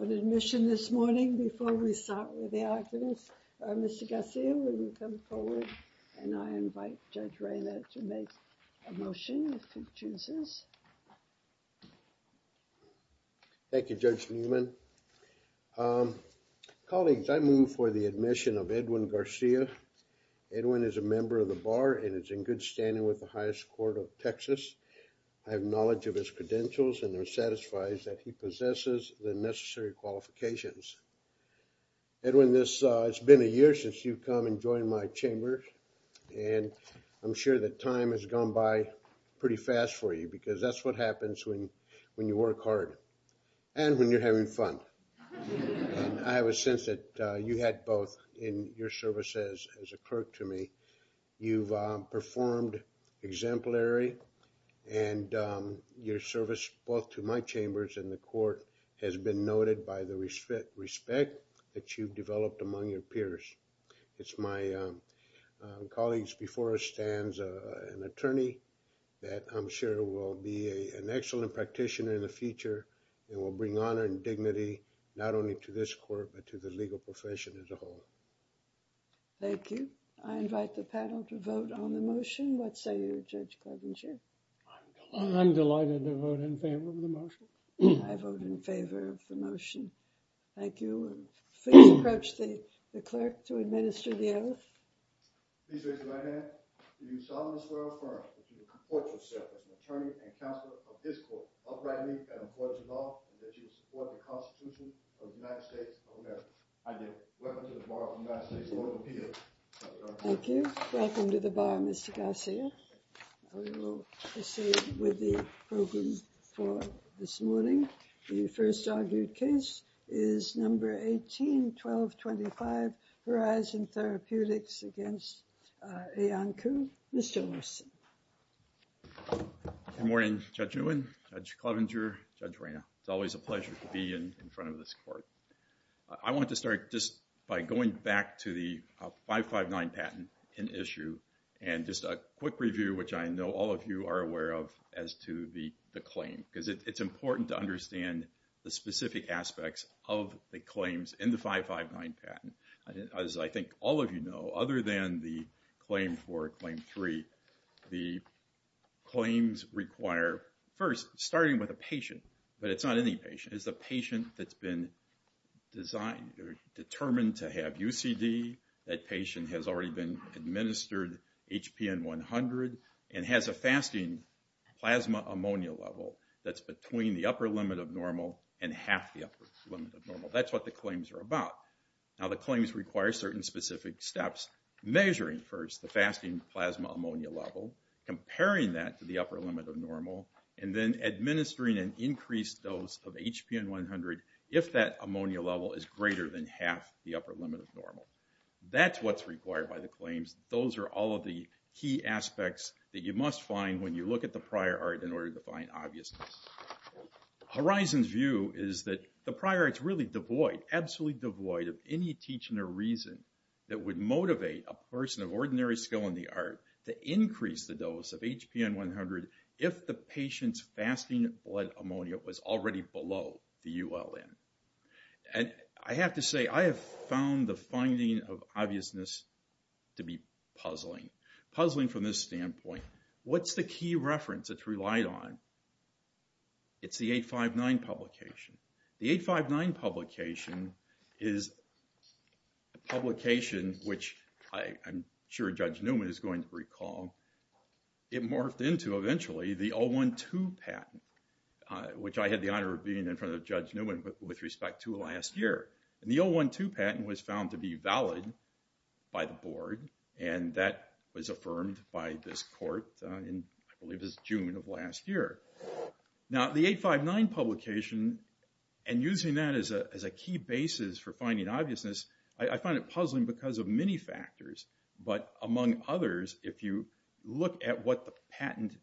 on admission this morning before we start with the audience. Mr Garcia, when we come forward and I invite Judge Reyna to make a motion if he chooses. Thank you, Judge Newman. Um, colleagues, I move for the admission of Edwin Garcia. Edwin is a member of the bar and it's in good standing with the highest court of Texas. I have knowledge of his credentials and they're satisfies that he possesses the necessary qualifications. Edwin, this has been a year since you've come and joined my chamber and I'm sure that time has gone by pretty fast for you because that's what happens when when you work hard and when you're having fun. I have a sense that you had both in your services as a clerk to me. You've performed exemplary and your service both to my chambers and the court has been noted by the respect that you've developed among your peers. It's my colleagues before us stands an attorney that I'm sure will be an excellent practitioner in the future and will bring honor and dignity not only to this court but to the legal profession as a whole. Thank you. I invite the panel to vote on the motion. What say you, Judge in favor of the motion? I vote in favor of the motion. Thank you. Please approach the clerk to administer the oath. Please raise your right hand. Do you solemnly swear or affirm that you will comport yourself as an attorney and counselor of this court, uprightly and in accordance with law, and that you will support the Constitution of the United States of America? I do. Welcome to the Bar of the United States of America. Thank you. Welcome to the Bar, Mr. Garcia. We will proceed with the program for this morning. The first argued case is number 18-1225, Verizon Therapeutics against Iancu. Mr. Olson. Good morning, Judge Nguyen, Judge Klovenger, Judge Reina. It's always a pleasure to be in front of this court. I want to start just by going back to the 559 patent in issue and just a quick review, which I know all of you are aware of, as to the claim, because it's important to understand the specific aspects of the claims in the 559 patent. As I think all of you know, other than the claim for Claim 3, the claims require, first, starting with a patient, but it's not any patient, it's a patient that's been designed or determined to have UCD. That patient has already been administered HPN 100 and has a fasting plasma ammonia level that's between the upper limit of normal and half the upper limit of normal. That's what the claims are about. Now, the claims require certain specific steps. Measuring first the fasting plasma ammonia level, comparing that to the upper limit of normal, and then administering an increased dose of HPN 100 if that ammonia level is greater than half the upper limit of normal. That's what's required by the claims. Those are all of the key aspects that you must find when you look at the prior art in order to find obviousness. Horizon's view is that the prior art's really devoid, absolutely devoid, of any teaching or reason that would motivate a person of ordinary skill in the art to increase the dose of HPN 100 if the patient's fasting blood ammonia was already below the ULN. And I have to say, I have found the finding of obviousness to be puzzling. Puzzling from this standpoint. What's the key reference that's relied on? It's the 859 publication. The 859 publication is a publication which I'm sure Judge Newman is going to recall. It morphed into eventually the 012 patent, which I had the honor of being in front of Judge Newman with respect to last year. The 012 patent was found to be valid by the board, and that was affirmed by this court in June of last year. Now the 859 publication, and using that as a key basis for finding obviousness, I find it puzzling because of many factors. But among others, if you look at what the patent,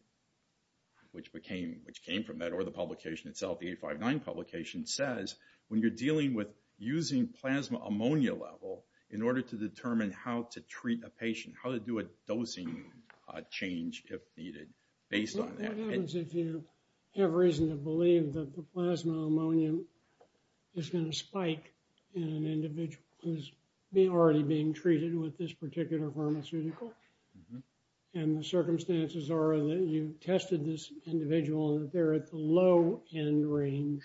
which came from that, or the publication itself, the 859 publication, says when you're dealing with using plasma ammonia level in order to determine how to treat a patient, how to do a dosing change if needed based on that. What happens if you have reason to believe that the plasma ammonia is going to spike in an individual who's already being treated with this particular pharmaceutical? And the circumstances are that you've tested this individual and they're at the low end range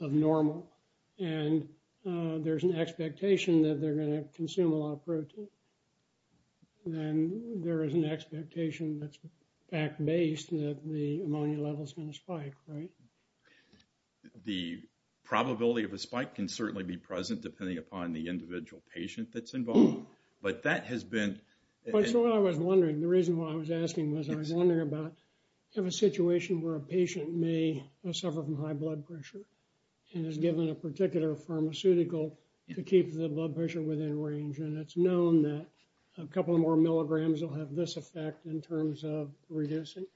of normal, and there's an expectation that they're going to consume a lot of protein. Then there is an expectation that's fact-based that the ammonia level is going to spike, right? The probability of a spike can certainly be present depending upon the individual patient that's involved, but that has been... So I was wondering, the reason why I was asking was I was wondering about a situation where a patient may suffer from high blood pressure and is given a particular pharmaceutical to keep the blood pressure within range, and it's known that a couple of more milligrams will have this effect in terms of reducing,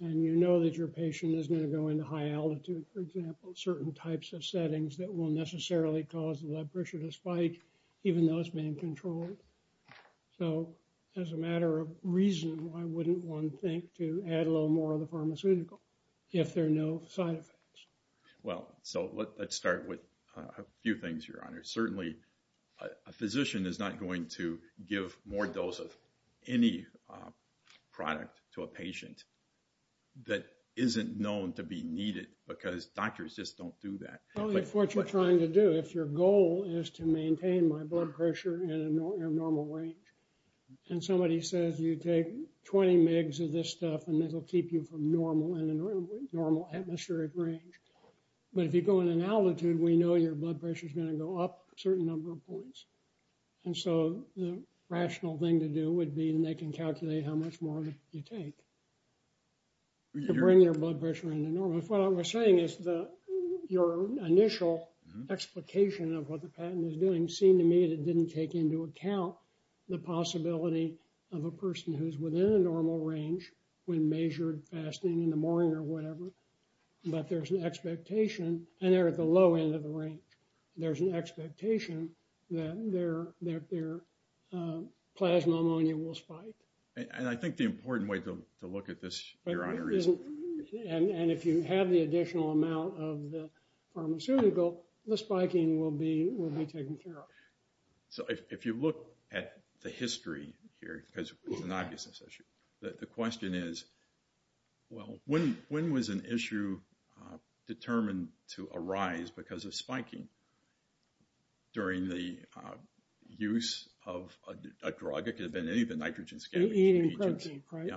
and you know that your patient is going to go into high altitude, for example, that will necessarily cause the blood pressure to spike even though it's being controlled. So as a matter of reason, why wouldn't one think to add a little more of the pharmaceutical if there are no side effects? Well, so let's start with a few things, Your Honor. Certainly, a physician is not going to give more dose of any product to a patient that isn't known to be needed because doctors just don't do that. Well, that's what you're trying to do. If your goal is to maintain my blood pressure in a normal range, and somebody says you take 20 mg of this stuff and it'll keep you from normal in a normal atmospheric range. But if you go in an altitude, we know your blood pressure is going to go up a certain number of points. And so the rational thing to do would be, and they can calculate how much more you take to bring your blood pressure into normal. But what I was saying is your initial explication of what the patent is doing seemed to me that it didn't take into account the possibility of a person who's within a normal range when measured fasting in the morning or whatever. But there's an expectation, and they're at the low end of the rank. There's an expectation that their plasma pneumonia will spike. And I think the important way to look at this, Your Honor, is... And if you have the additional amount of the pharmaceutical, the spiking will be taken care of. So if you look at the history here, because it's an obviousness issue, the question is, well, when was an issue determined to arise because of spiking during the use of a drug? It could have been any of the nitrogen scavenging agents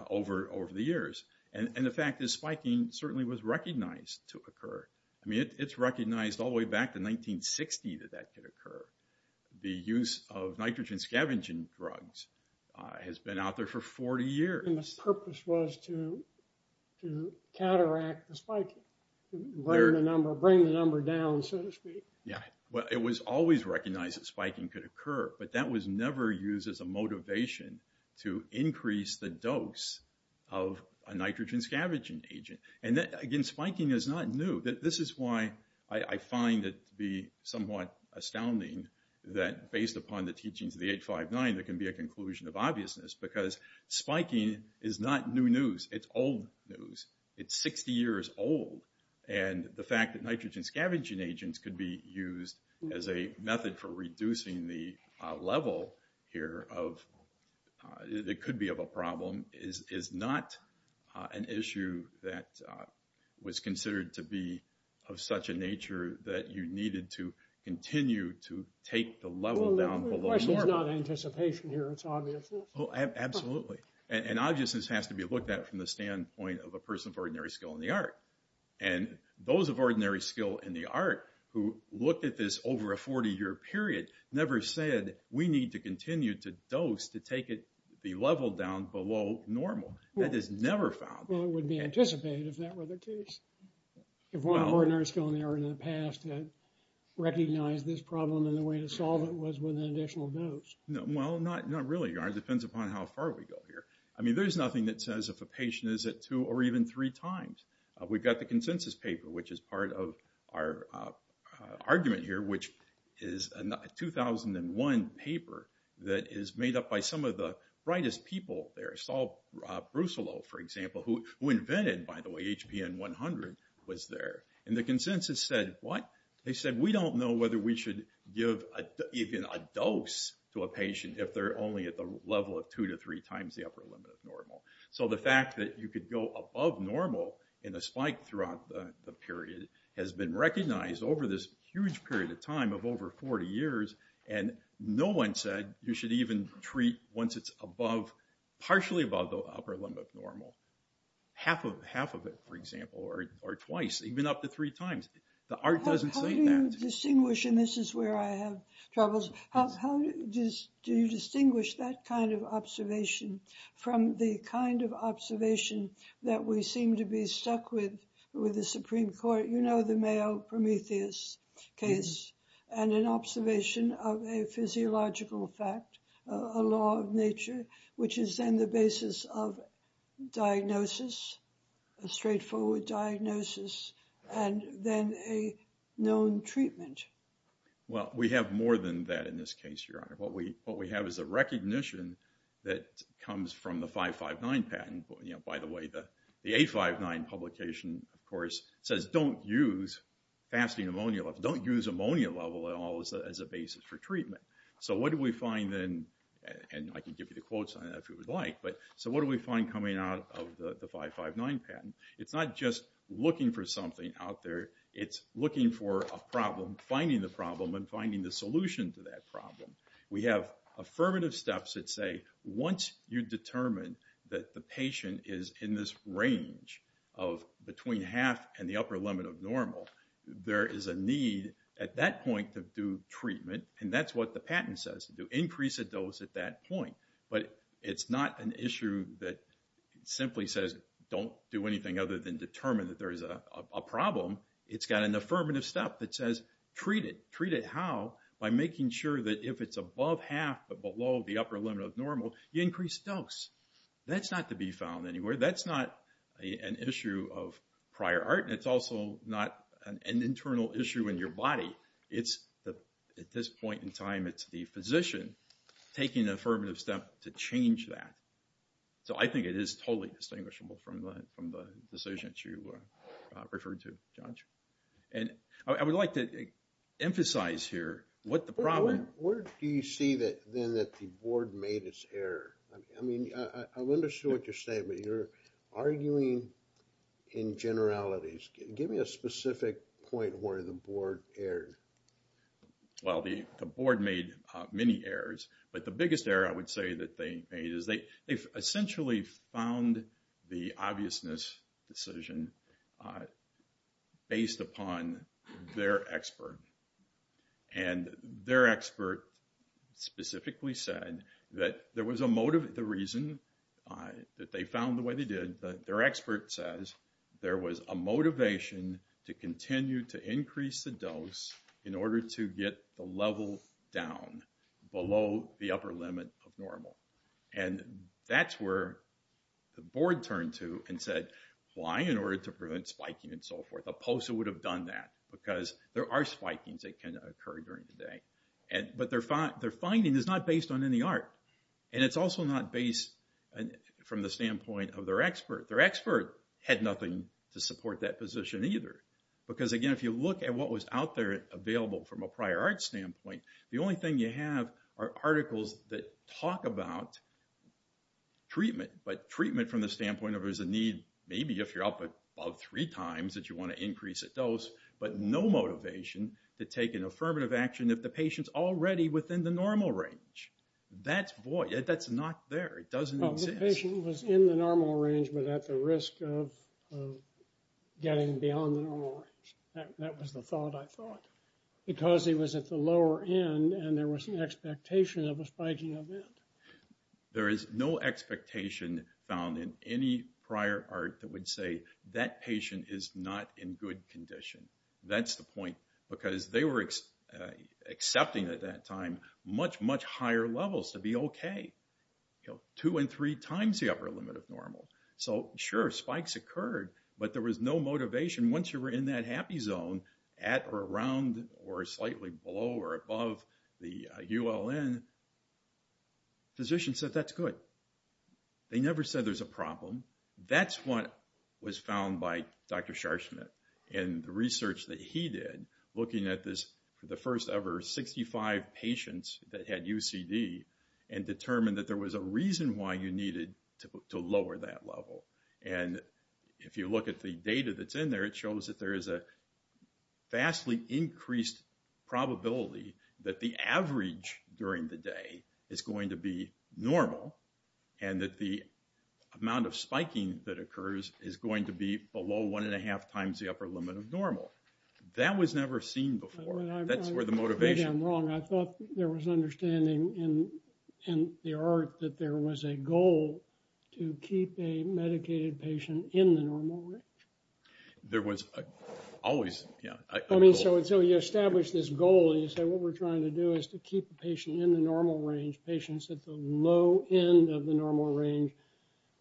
over the years. And the fact is spiking certainly was recognized to occur. I mean, it's recognized all the way back to 1960 that that could occur. The use of nitrogen scavenging drugs has been out there for 40 years. And the purpose was to counteract the spiking, bring the number down, so to speak. Yeah. Well, it was always recognized that spiking could occur. But that was never used as a motivation to increase the dose of a nitrogen scavenging agent. And again, spiking is not new. This is why I find it to be somewhat astounding that based upon the teachings of the 859, there can be a conclusion of obviousness because spiking is not new news. It's old news. It's 60 years old. And the fact that nitrogen scavenging agents could be used as a method for reducing the level here of, it could be of a problem, is not an issue that was considered to be of such a nature that you needed to continue to take the level down below normal. Well, the question is not anticipation here. It's obviousness. And those of ordinary skill in the art who looked at this over a 40-year period never said, we need to continue to dose to take it, be leveled down below normal. That is never found. Well, it would be anticipated if that were the case. If one ordinary skill in the art in the past had recognized this problem and the way to solve it was with an additional dose. Well, not really. It depends upon how far we go here. I mean, there's nothing that says if a patient is at two or even three times. We've got the consensus paper, which is part of our argument here, which is a 2001 paper that is made up by some of the brightest people there. Saul Brusilow, for example, who invented, by the way, HPN 100, was there. And the consensus said, what? They said, we don't know whether we should give even a dose to a patient if they're only at the level of two to three times the upper limit of normal. So the fact that you could go above normal in a spike throughout the period has been recognized over this huge period of time of over 40 years, and no one said you should even treat once it's above, partially above the upper limit of normal. Half of it, for example, or twice, even up to three times. The art doesn't say that. How do you distinguish, and this is where I have troubles, how do you distinguish that kind of observation from the kind of observation that we seem to be stuck with with the Supreme Court, you know, the Mayo-Prometheus case, and an observation of a physiological fact, a law of nature, which is then the basis of diagnosis, a straightforward diagnosis, and then a known treatment? Well, we have more than that in this case, Your Honor. What we have is a recognition that comes from the 559 patent. You know, by the way, the 859 publication, of course, says don't use fasting ammonia levels, don't use ammonia levels at all as a basis for treatment. So what do we find then, and I can give you the quotes on that if you would like, but so what do we find coming out of the 559 patent? It's not just looking for something out there, it's looking for a problem, finding the problem, and finding the solution to that problem. We have affirmative steps that say once you determine that the patient is in this range of between half and the upper limit of normal, there is a need at that point to do treatment, and that's what the patent says, to increase a dose at that point. But it's not an issue that simply says don't do anything other than determine that there is a problem. It's got an affirmative step that says treat it. Treat it how? By making sure that if it's above half but below the upper limit of normal, you increase dose. That's not to be found anywhere. That's not an issue of prior art, and it's also not an internal issue in your body. It's at this point in time, it's the physician taking an affirmative step to change that. So I think it is totally distinguishable from the decision that you referred to, John. And I would like to emphasize here what the problem is. Where do you see then that the board made its error? I mean, I've understood what you're saying, but you're arguing in generalities. Give me a specific point where the board erred. Well, the board made many errors, but the biggest error I would say that they made is they essentially found the obviousness decision based upon their expert. And their expert specifically said that the reason that they found the way they did, their expert says there was a motivation to continue to increase the dose in order to get the level down below the upper limit of normal. And that's where the board turned to and said, why in order to prevent spiking and so forth? A POSA would have done that because there are spikings that can occur during the day. But their finding is not based on any art, and it's also not based from the standpoint of their expert. Their expert had nothing to support that position either because, again, if you look at what was out there available from a prior art standpoint, the only thing you have are articles that talk about treatment. But treatment from the standpoint of there's a need, maybe if you're up above three times that you want to increase a dose, but no motivation to take an affirmative action if the patient's already within the normal range. That's void. That's not there. It doesn't exist. The patient was in the normal range but at the risk of getting beyond the normal range. That was the thought I thought because he was at the lower end and there was an expectation of a spiking event. There is no expectation found in any prior art that would say that patient is not in good condition. That's the point because they were accepting at that time much, much higher levels to be OK. Two and three times the upper limit of normal. So, sure, spikes occurred, but there was no motivation once you were in that happy zone, at or around or slightly below or above the ULN. Physicians said that's good. They never said there's a problem. That's what was found by Dr. Sharsmith and the research that he did looking at this, the first ever 65 patients that had UCD and determined that there was a reason why you needed to lower that level. And if you look at the data that's in there, it shows that there is a vastly increased probability that the average during the day is going to be normal and that the amount of spiking that occurs is going to be below one and a half times the upper limit of normal. That was never seen before. That's where the motivation... I think I'm wrong. I thought there was understanding in the art that there was a goal to keep a medicated patient in the normal range. There was always... I mean, so you establish this goal and you say what we're trying to do is to keep the patient in the normal range, patients at the low end of the normal range.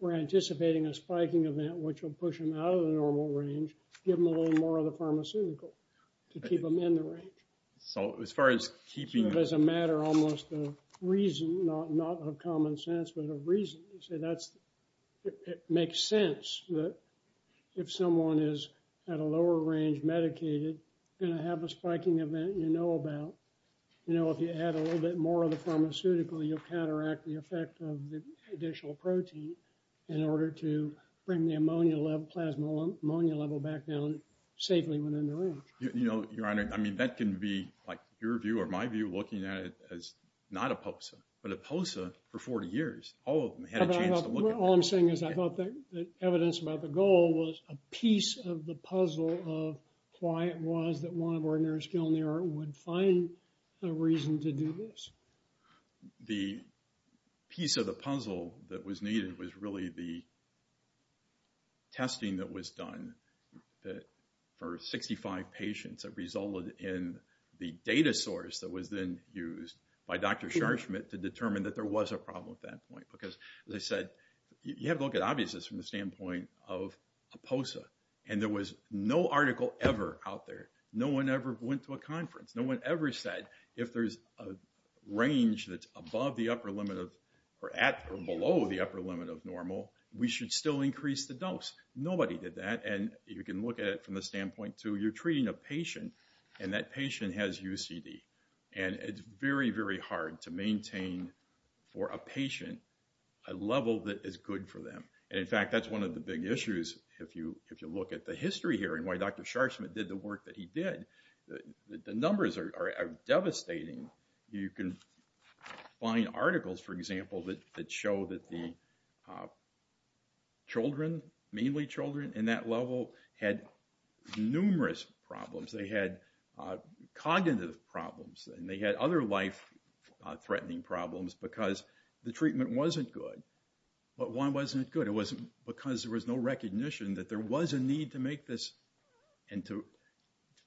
We're anticipating a spiking event which will push them out of the normal range, give them a little more of the pharmaceutical to keep them in the range. So as far as keeping... It's a matter almost of reason, not of common sense, but of reason. You say that's... It makes sense that if someone is at a lower range medicated, you're going to have a spiking event you know about. You know, if you add a little bit more of the pharmaceutical, you'll cataract the effect of the additional protein in order to bring the ammonia level, plasma ammonia level back down safely within the range. You know, Your Honor, I mean, that can be like your view or my view looking at it as not a POSA, but a POSA for 40 years. All of them had a chance to look at it. All I'm saying is I thought the evidence about the goal was a piece of the puzzle of why it was that one of our nursing home there would find a reason to do this. The piece of the puzzle that was needed was really the testing that was done for 65 patients that resulted in the data source that was then used by Dr. Scharchmitt to determine that there was a problem at that point. Because as I said, you have to look at obviousness from the standpoint of a POSA. And there was no article ever out there. No one ever went to a conference. No one ever said if there's a range that's above the upper limit of or at or below the upper limit of normal, we should still increase the dose. Nobody did that. And you can look at it from the standpoint to you're treating a patient and that patient has UCD. And it's very, very hard to maintain for a patient a level that is good for them. In fact, that's one of the big issues. If you look at the history here and why Dr. Scharchmitt did the work that he did, the numbers are devastating. You can find articles, for example, that show that the children, mainly children, in that level had numerous problems. They had cognitive problems and they had other life-threatening problems because the treatment wasn't good. But why wasn't it good? It wasn't because there was no recognition that there was a need to make this and to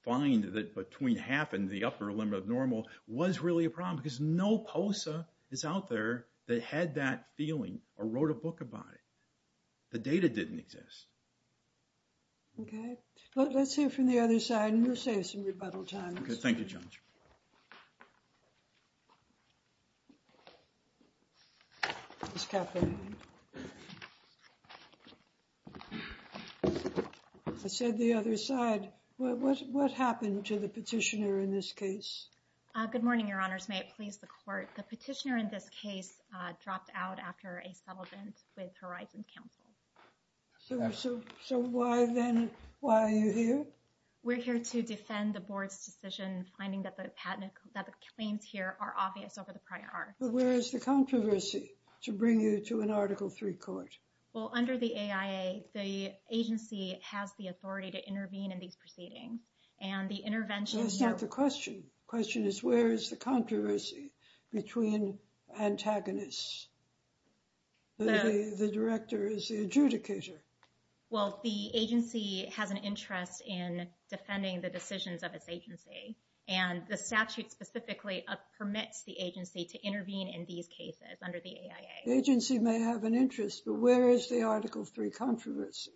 find that between half and the upper limit of normal was really a problem because no POSA is out there that had that feeling or wrote a book about it. The data didn't exist. Okay. Let's hear from the other side and we'll save some rebuttal time. Okay. Thank you, Jones. Ms. Kaplan. I said the other side. What happened to the petitioner in this case? Good morning, Your Honors. May it please the Court. The petitioner in this case dropped out after a settlement with Horizon Council. So why then? Why are you here? We're here to defend the Board's decision, finding that the claims here are obvious over the prior article. But where is the controversy to bring you to an Article III court? Well, under the AIA, the agency has the authority to intervene in these proceedings. That's not the question. The question is where is the controversy between antagonists? The director is the adjudicator. Well, the agency has an interest in defending the decisions of its agency. And the statute specifically permits the agency to intervene in these cases under the AIA. The agency may have an interest, but where is the Article III controversy?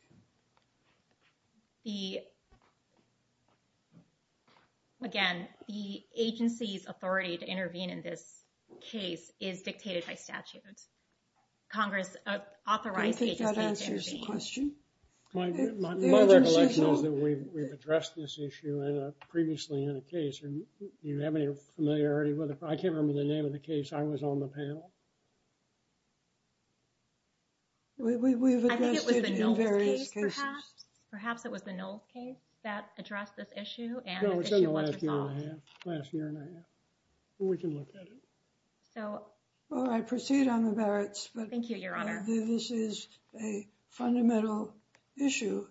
Again, the agency's authority to intervene in this case is dictated by statute. Congress authorized the agency to intervene. I think that answers the question. My recollection is that we've addressed this issue previously in a case. Do you have any familiarity with it? I can't remember the name of the case. I was on the panel. We've addressed it in various cases. Perhaps it was the Knowles case that addressed this issue. No, it was in the last year and a half. Last year and a half. We can look at it. Well, I proceed on the merits. Thank you, Your Honor. This is a fundamental issue.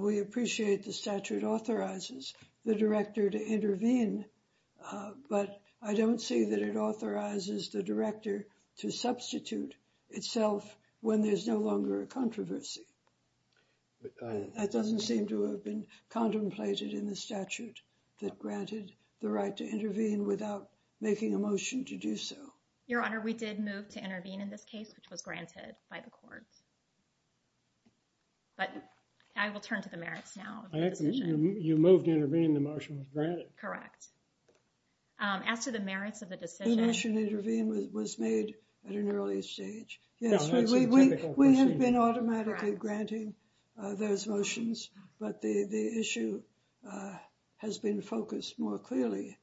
We appreciate the statute authorizes the director to intervene, but I don't see that it authorizes the director to substitute itself when there's no longer a controversy. That doesn't seem to have been contemplated in the statute that granted the right to intervene without making a motion to do so. Your Honor, we did move to intervene in this case, which was granted by the courts. But I will turn to the merits now. You moved to intervene. The motion was granted. Correct. As to the merits of the decision. The motion to intervene was made at an early stage. Yes, we have been automatically granting those motions, but the issue has been focused more clearly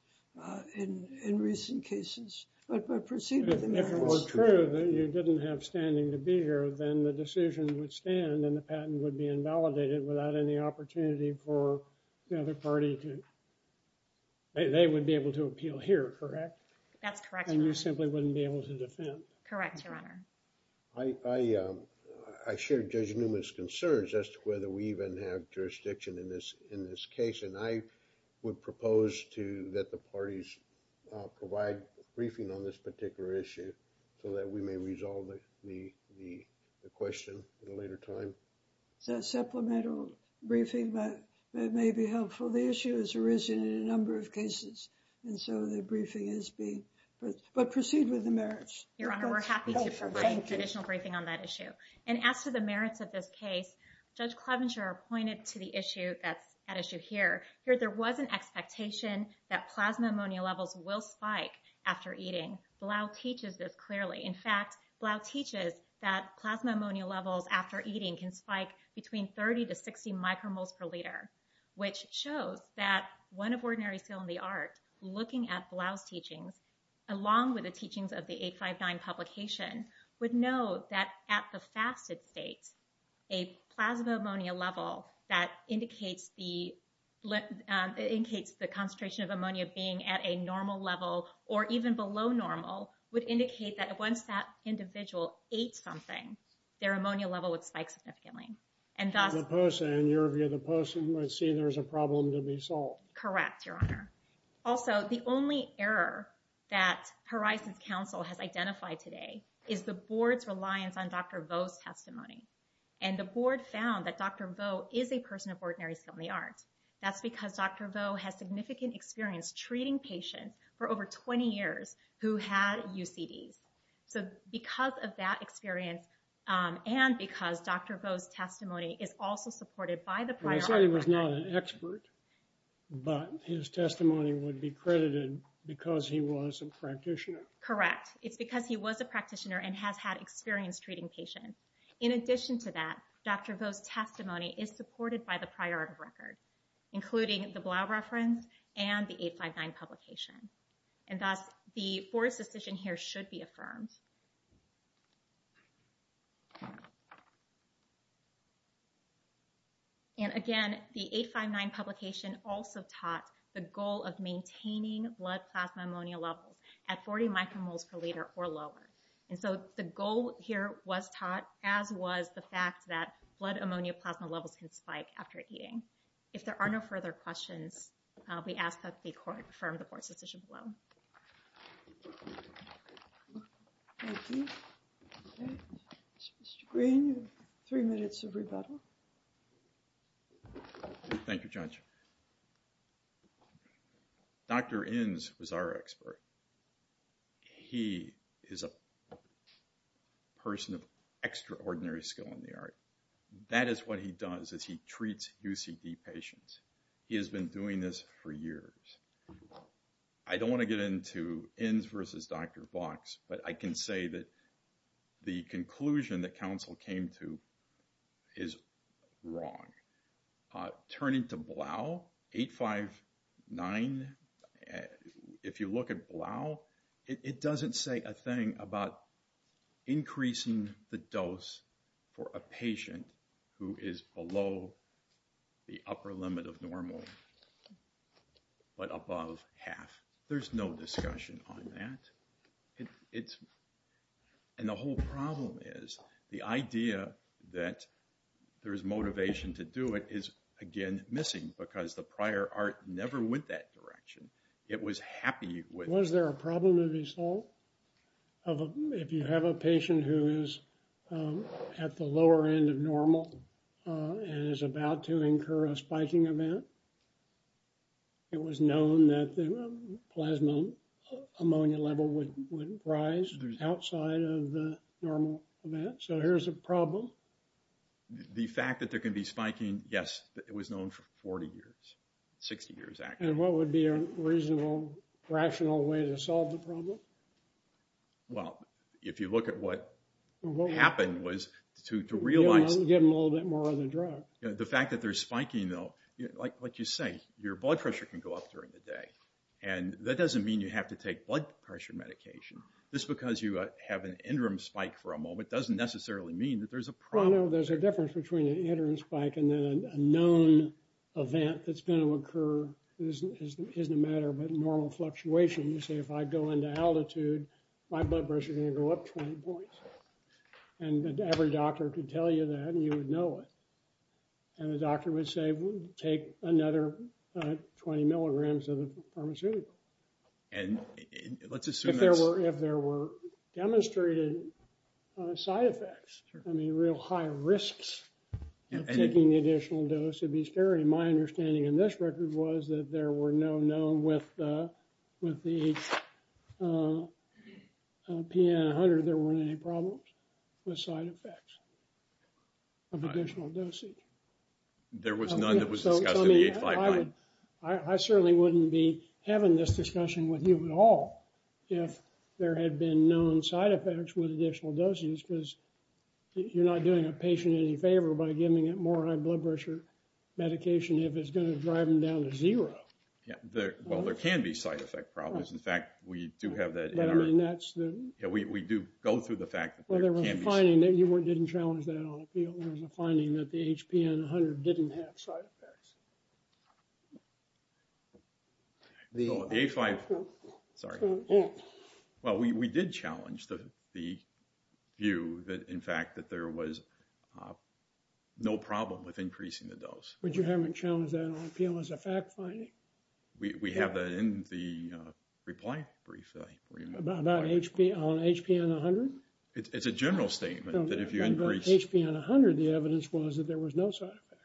in recent cases. But proceed with the merits. If it were true that you didn't have standing to be here, then the decision would stand and the patent would be invalidated without any opportunity for the other party to, they would be able to appeal here, correct? That's correct, Your Honor. And you simply wouldn't be able to defend. Correct, Your Honor. I share Judge Newman's concerns as to whether we even have jurisdiction in this case. And I would propose that the parties provide a briefing on this particular issue so that we may resolve the question at a later time. It's a supplemental briefing, but it may be helpful. The issue has arisen in a number of cases, and so the briefing is being, but proceed with the merits. Your Honor, we're happy to provide additional briefing on that issue. And as to the merits of this case, Judge Clevenger pointed to the issue that's at issue here. There was an expectation that plasma ammonia levels will spike after eating. Blau teaches this clearly. In fact, Blau teaches that plasma ammonia levels after eating can spike between 30 to 60 micromoles per liter, which shows that one of ordinary skill in the art looking at Blau's teachings of the 859 publication would know that at the fasted state, a plasma ammonia level that indicates the, in case the concentration of ammonia being at a normal level or even below normal would indicate that once that individual ate something, their ammonia level would spike significantly. And thus, In your view, the POSA might see there's a problem to be solved. Correct, Your Honor. Also, the only error that horizons council has identified today is the board's reliance on Dr. Vo's testimony. And the board found that Dr. Vo is a person of ordinary skill in the art. That's because Dr. Vo has significant experience treating patients for over 20 years who had UCDs. and because Dr. Vo's testimony is also supported by the prior. I said he was not an expert, but his testimony would be credited because he was a practitioner. Correct. It's because he was a practitioner and has had experience treating patients. In addition to that, Dr. Vo's testimony is supported by the prior record, including the Blau reference and the 859 publication. And thus the fourth decision here should be affirmed. And again, the 859 publication also taught the goal of maintaining blood plasma ammonia levels at 40 micromoles per liter or lower. And so the goal here was taught as was the fact that blood ammonia plasma levels can spike after eating. If there are no further questions, we ask that the court affirm the board's decision below. Mr. Green, three minutes of rebuttal. Thank you, judge. Dr. Inns was our expert. He is a person of extraordinary skill in the art. That is what he does is he treats UCD patients. He has been doing this for years. I don't want to get into Inns versus Dr. Fox, but I can say that the conclusion that council came to is wrong. Turning to Blau 859. If you look at Blau, it doesn't say a thing about increasing the dose for a patient who is below the upper limit of normal, but above half, there's no discussion on that. And the whole problem is the idea that there is motivation to do it is, again, missing because the prior art never went that direction. It was happy. Was there a problem to be solved? If you have a patient who is at the lower end of normal and is about to incur a spiking event, it was known that the plasma ammonia level would rise outside of the normal event. So here's a problem. The fact that there can be spiking. Yes, it was known for 40 years, 60 years. And what would be a reasonable, rational way to solve the problem? Well, if you look at what happened was to realize, give them a little bit more of the drug. The fact that there's spiking though, like you say, your blood pressure can go up during the day. And that doesn't mean you have to take blood pressure medication. This is because you have an interim spike for a moment. It doesn't necessarily mean that there's a problem. There's a difference between an interim spike and then a known event that's going to occur. It isn't a matter of normal fluctuation. You say, if I go into altitude, my blood pressure is going to go up 20 points. And every doctor could tell you that, and you would know it. And the doctor would say, take another 20 milligrams of the pharmaceutical. And let's assume. If there were, if there were demonstrated side effects, I mean, real high risks of taking the additional dose. It'd be scary. My understanding in this record was that there were no known with, with the PN100. There weren't any problems with side effects. Of additional dosage. There was none that was discussed. I certainly wouldn't be having this discussion with you at all. If there had been known side effects with additional doses, because you're not doing a patient any favor by giving it more high blood pressure medication. If it's going to drive them down to zero. Well, there can be side effect problems. In fact, we do have that. We do go through the fact. Well, there was a finding that you weren't, didn't challenge that on appeal. There was a finding that the HPN100 didn't have side effects. The A5. Sorry. Well, we did challenge the, the view that in fact, that there was no problem with increasing the dose. But you haven't challenged that on appeal as a fact finding. We have that in the reply brief. About HP on HPN100. It's a general statement that if you increase. HPN100, the evidence was that there was no side effects.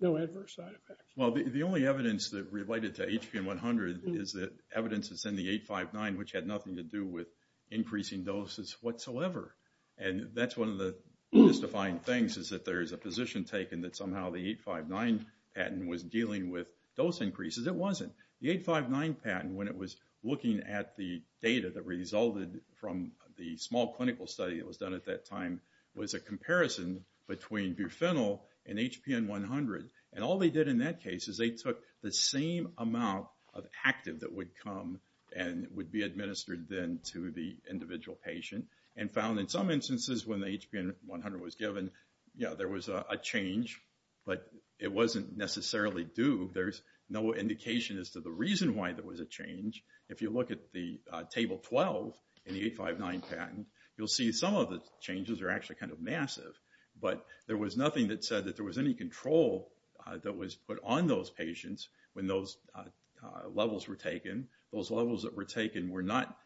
No adverse side effects. Well, the only evidence that related to HPN100 is that evidence is in the A5.9, which had nothing to do with increasing doses whatsoever. And that's one of the most defined things is that there is a position taken that somehow the A5.9 patent was dealing with dose increases. It wasn't. The A5.9 patent, when it was looking at the data that resulted from the small clinical study that was done at that time, was a comparison between buprenorphine and HPN100. And all they did in that case is they took the same amount of active that would come and would be administered then to the individual patient and found in some instances when the HPN100 was given, yeah, there was a change, but it wasn't necessarily due. There's no indication as to the reason why there was a change. If you look at the table 12 in the A5.9 patent, you'll see some of the changes are actually kind of massive, but there was nothing that said that there was any control that was put on those patients when those levels were taken. Those levels that were taken were not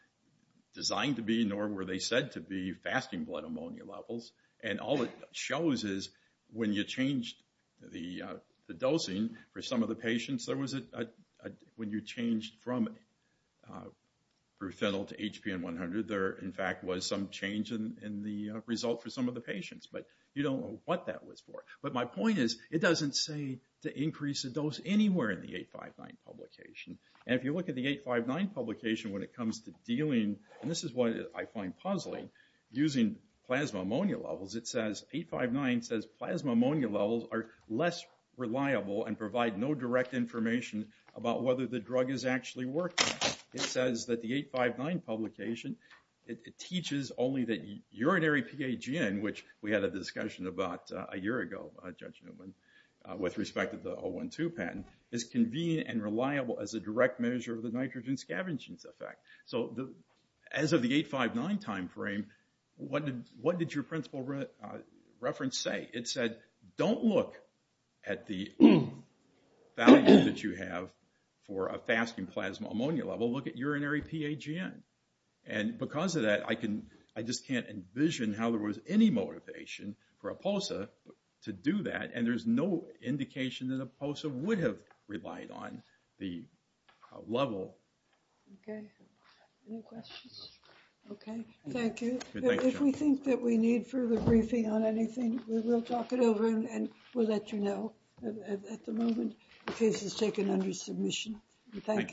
designed to be, nor were they said to be fasting blood ammonia levels. And all it shows is when you changed the dosing for some of the patients, there was a, when you changed from buprenorphine to HPN100, there in fact was some change in the result for some of the patients, but you don't know what that was for. But my point is, it doesn't say to increase the dose anywhere in the A5.9 publication. And if you look at the A5.9 publication when it comes to dealing, and this is what I find puzzling, using plasma ammonia levels, it says A5.9 says plasma ammonia levels are less reliable and provide no direct information about whether the drug is actually working. It says that the A5.9 publication, it teaches only that urinary PAGN, which we had a discussion about a year ago, Judge Newman, with respect to the O1.2 patent, is convenient and reliable as a direct measure of the nitrogen scavenging effect. So as of the A5.9 timeframe, what did your principle reference say? It said, don't look at the value that you have for a fasting plasma ammonia level. Look at urinary PAGN. And because of that, I just can't envision how there was any motivation for EPOSA to do that. And there's no indication that EPOSA would have relied on the level. Okay. Any questions? Okay. Thank you. If we think that we need further briefing on anything, we will talk it over and we'll let you know at the moment. The case is taken under submission. Thank you.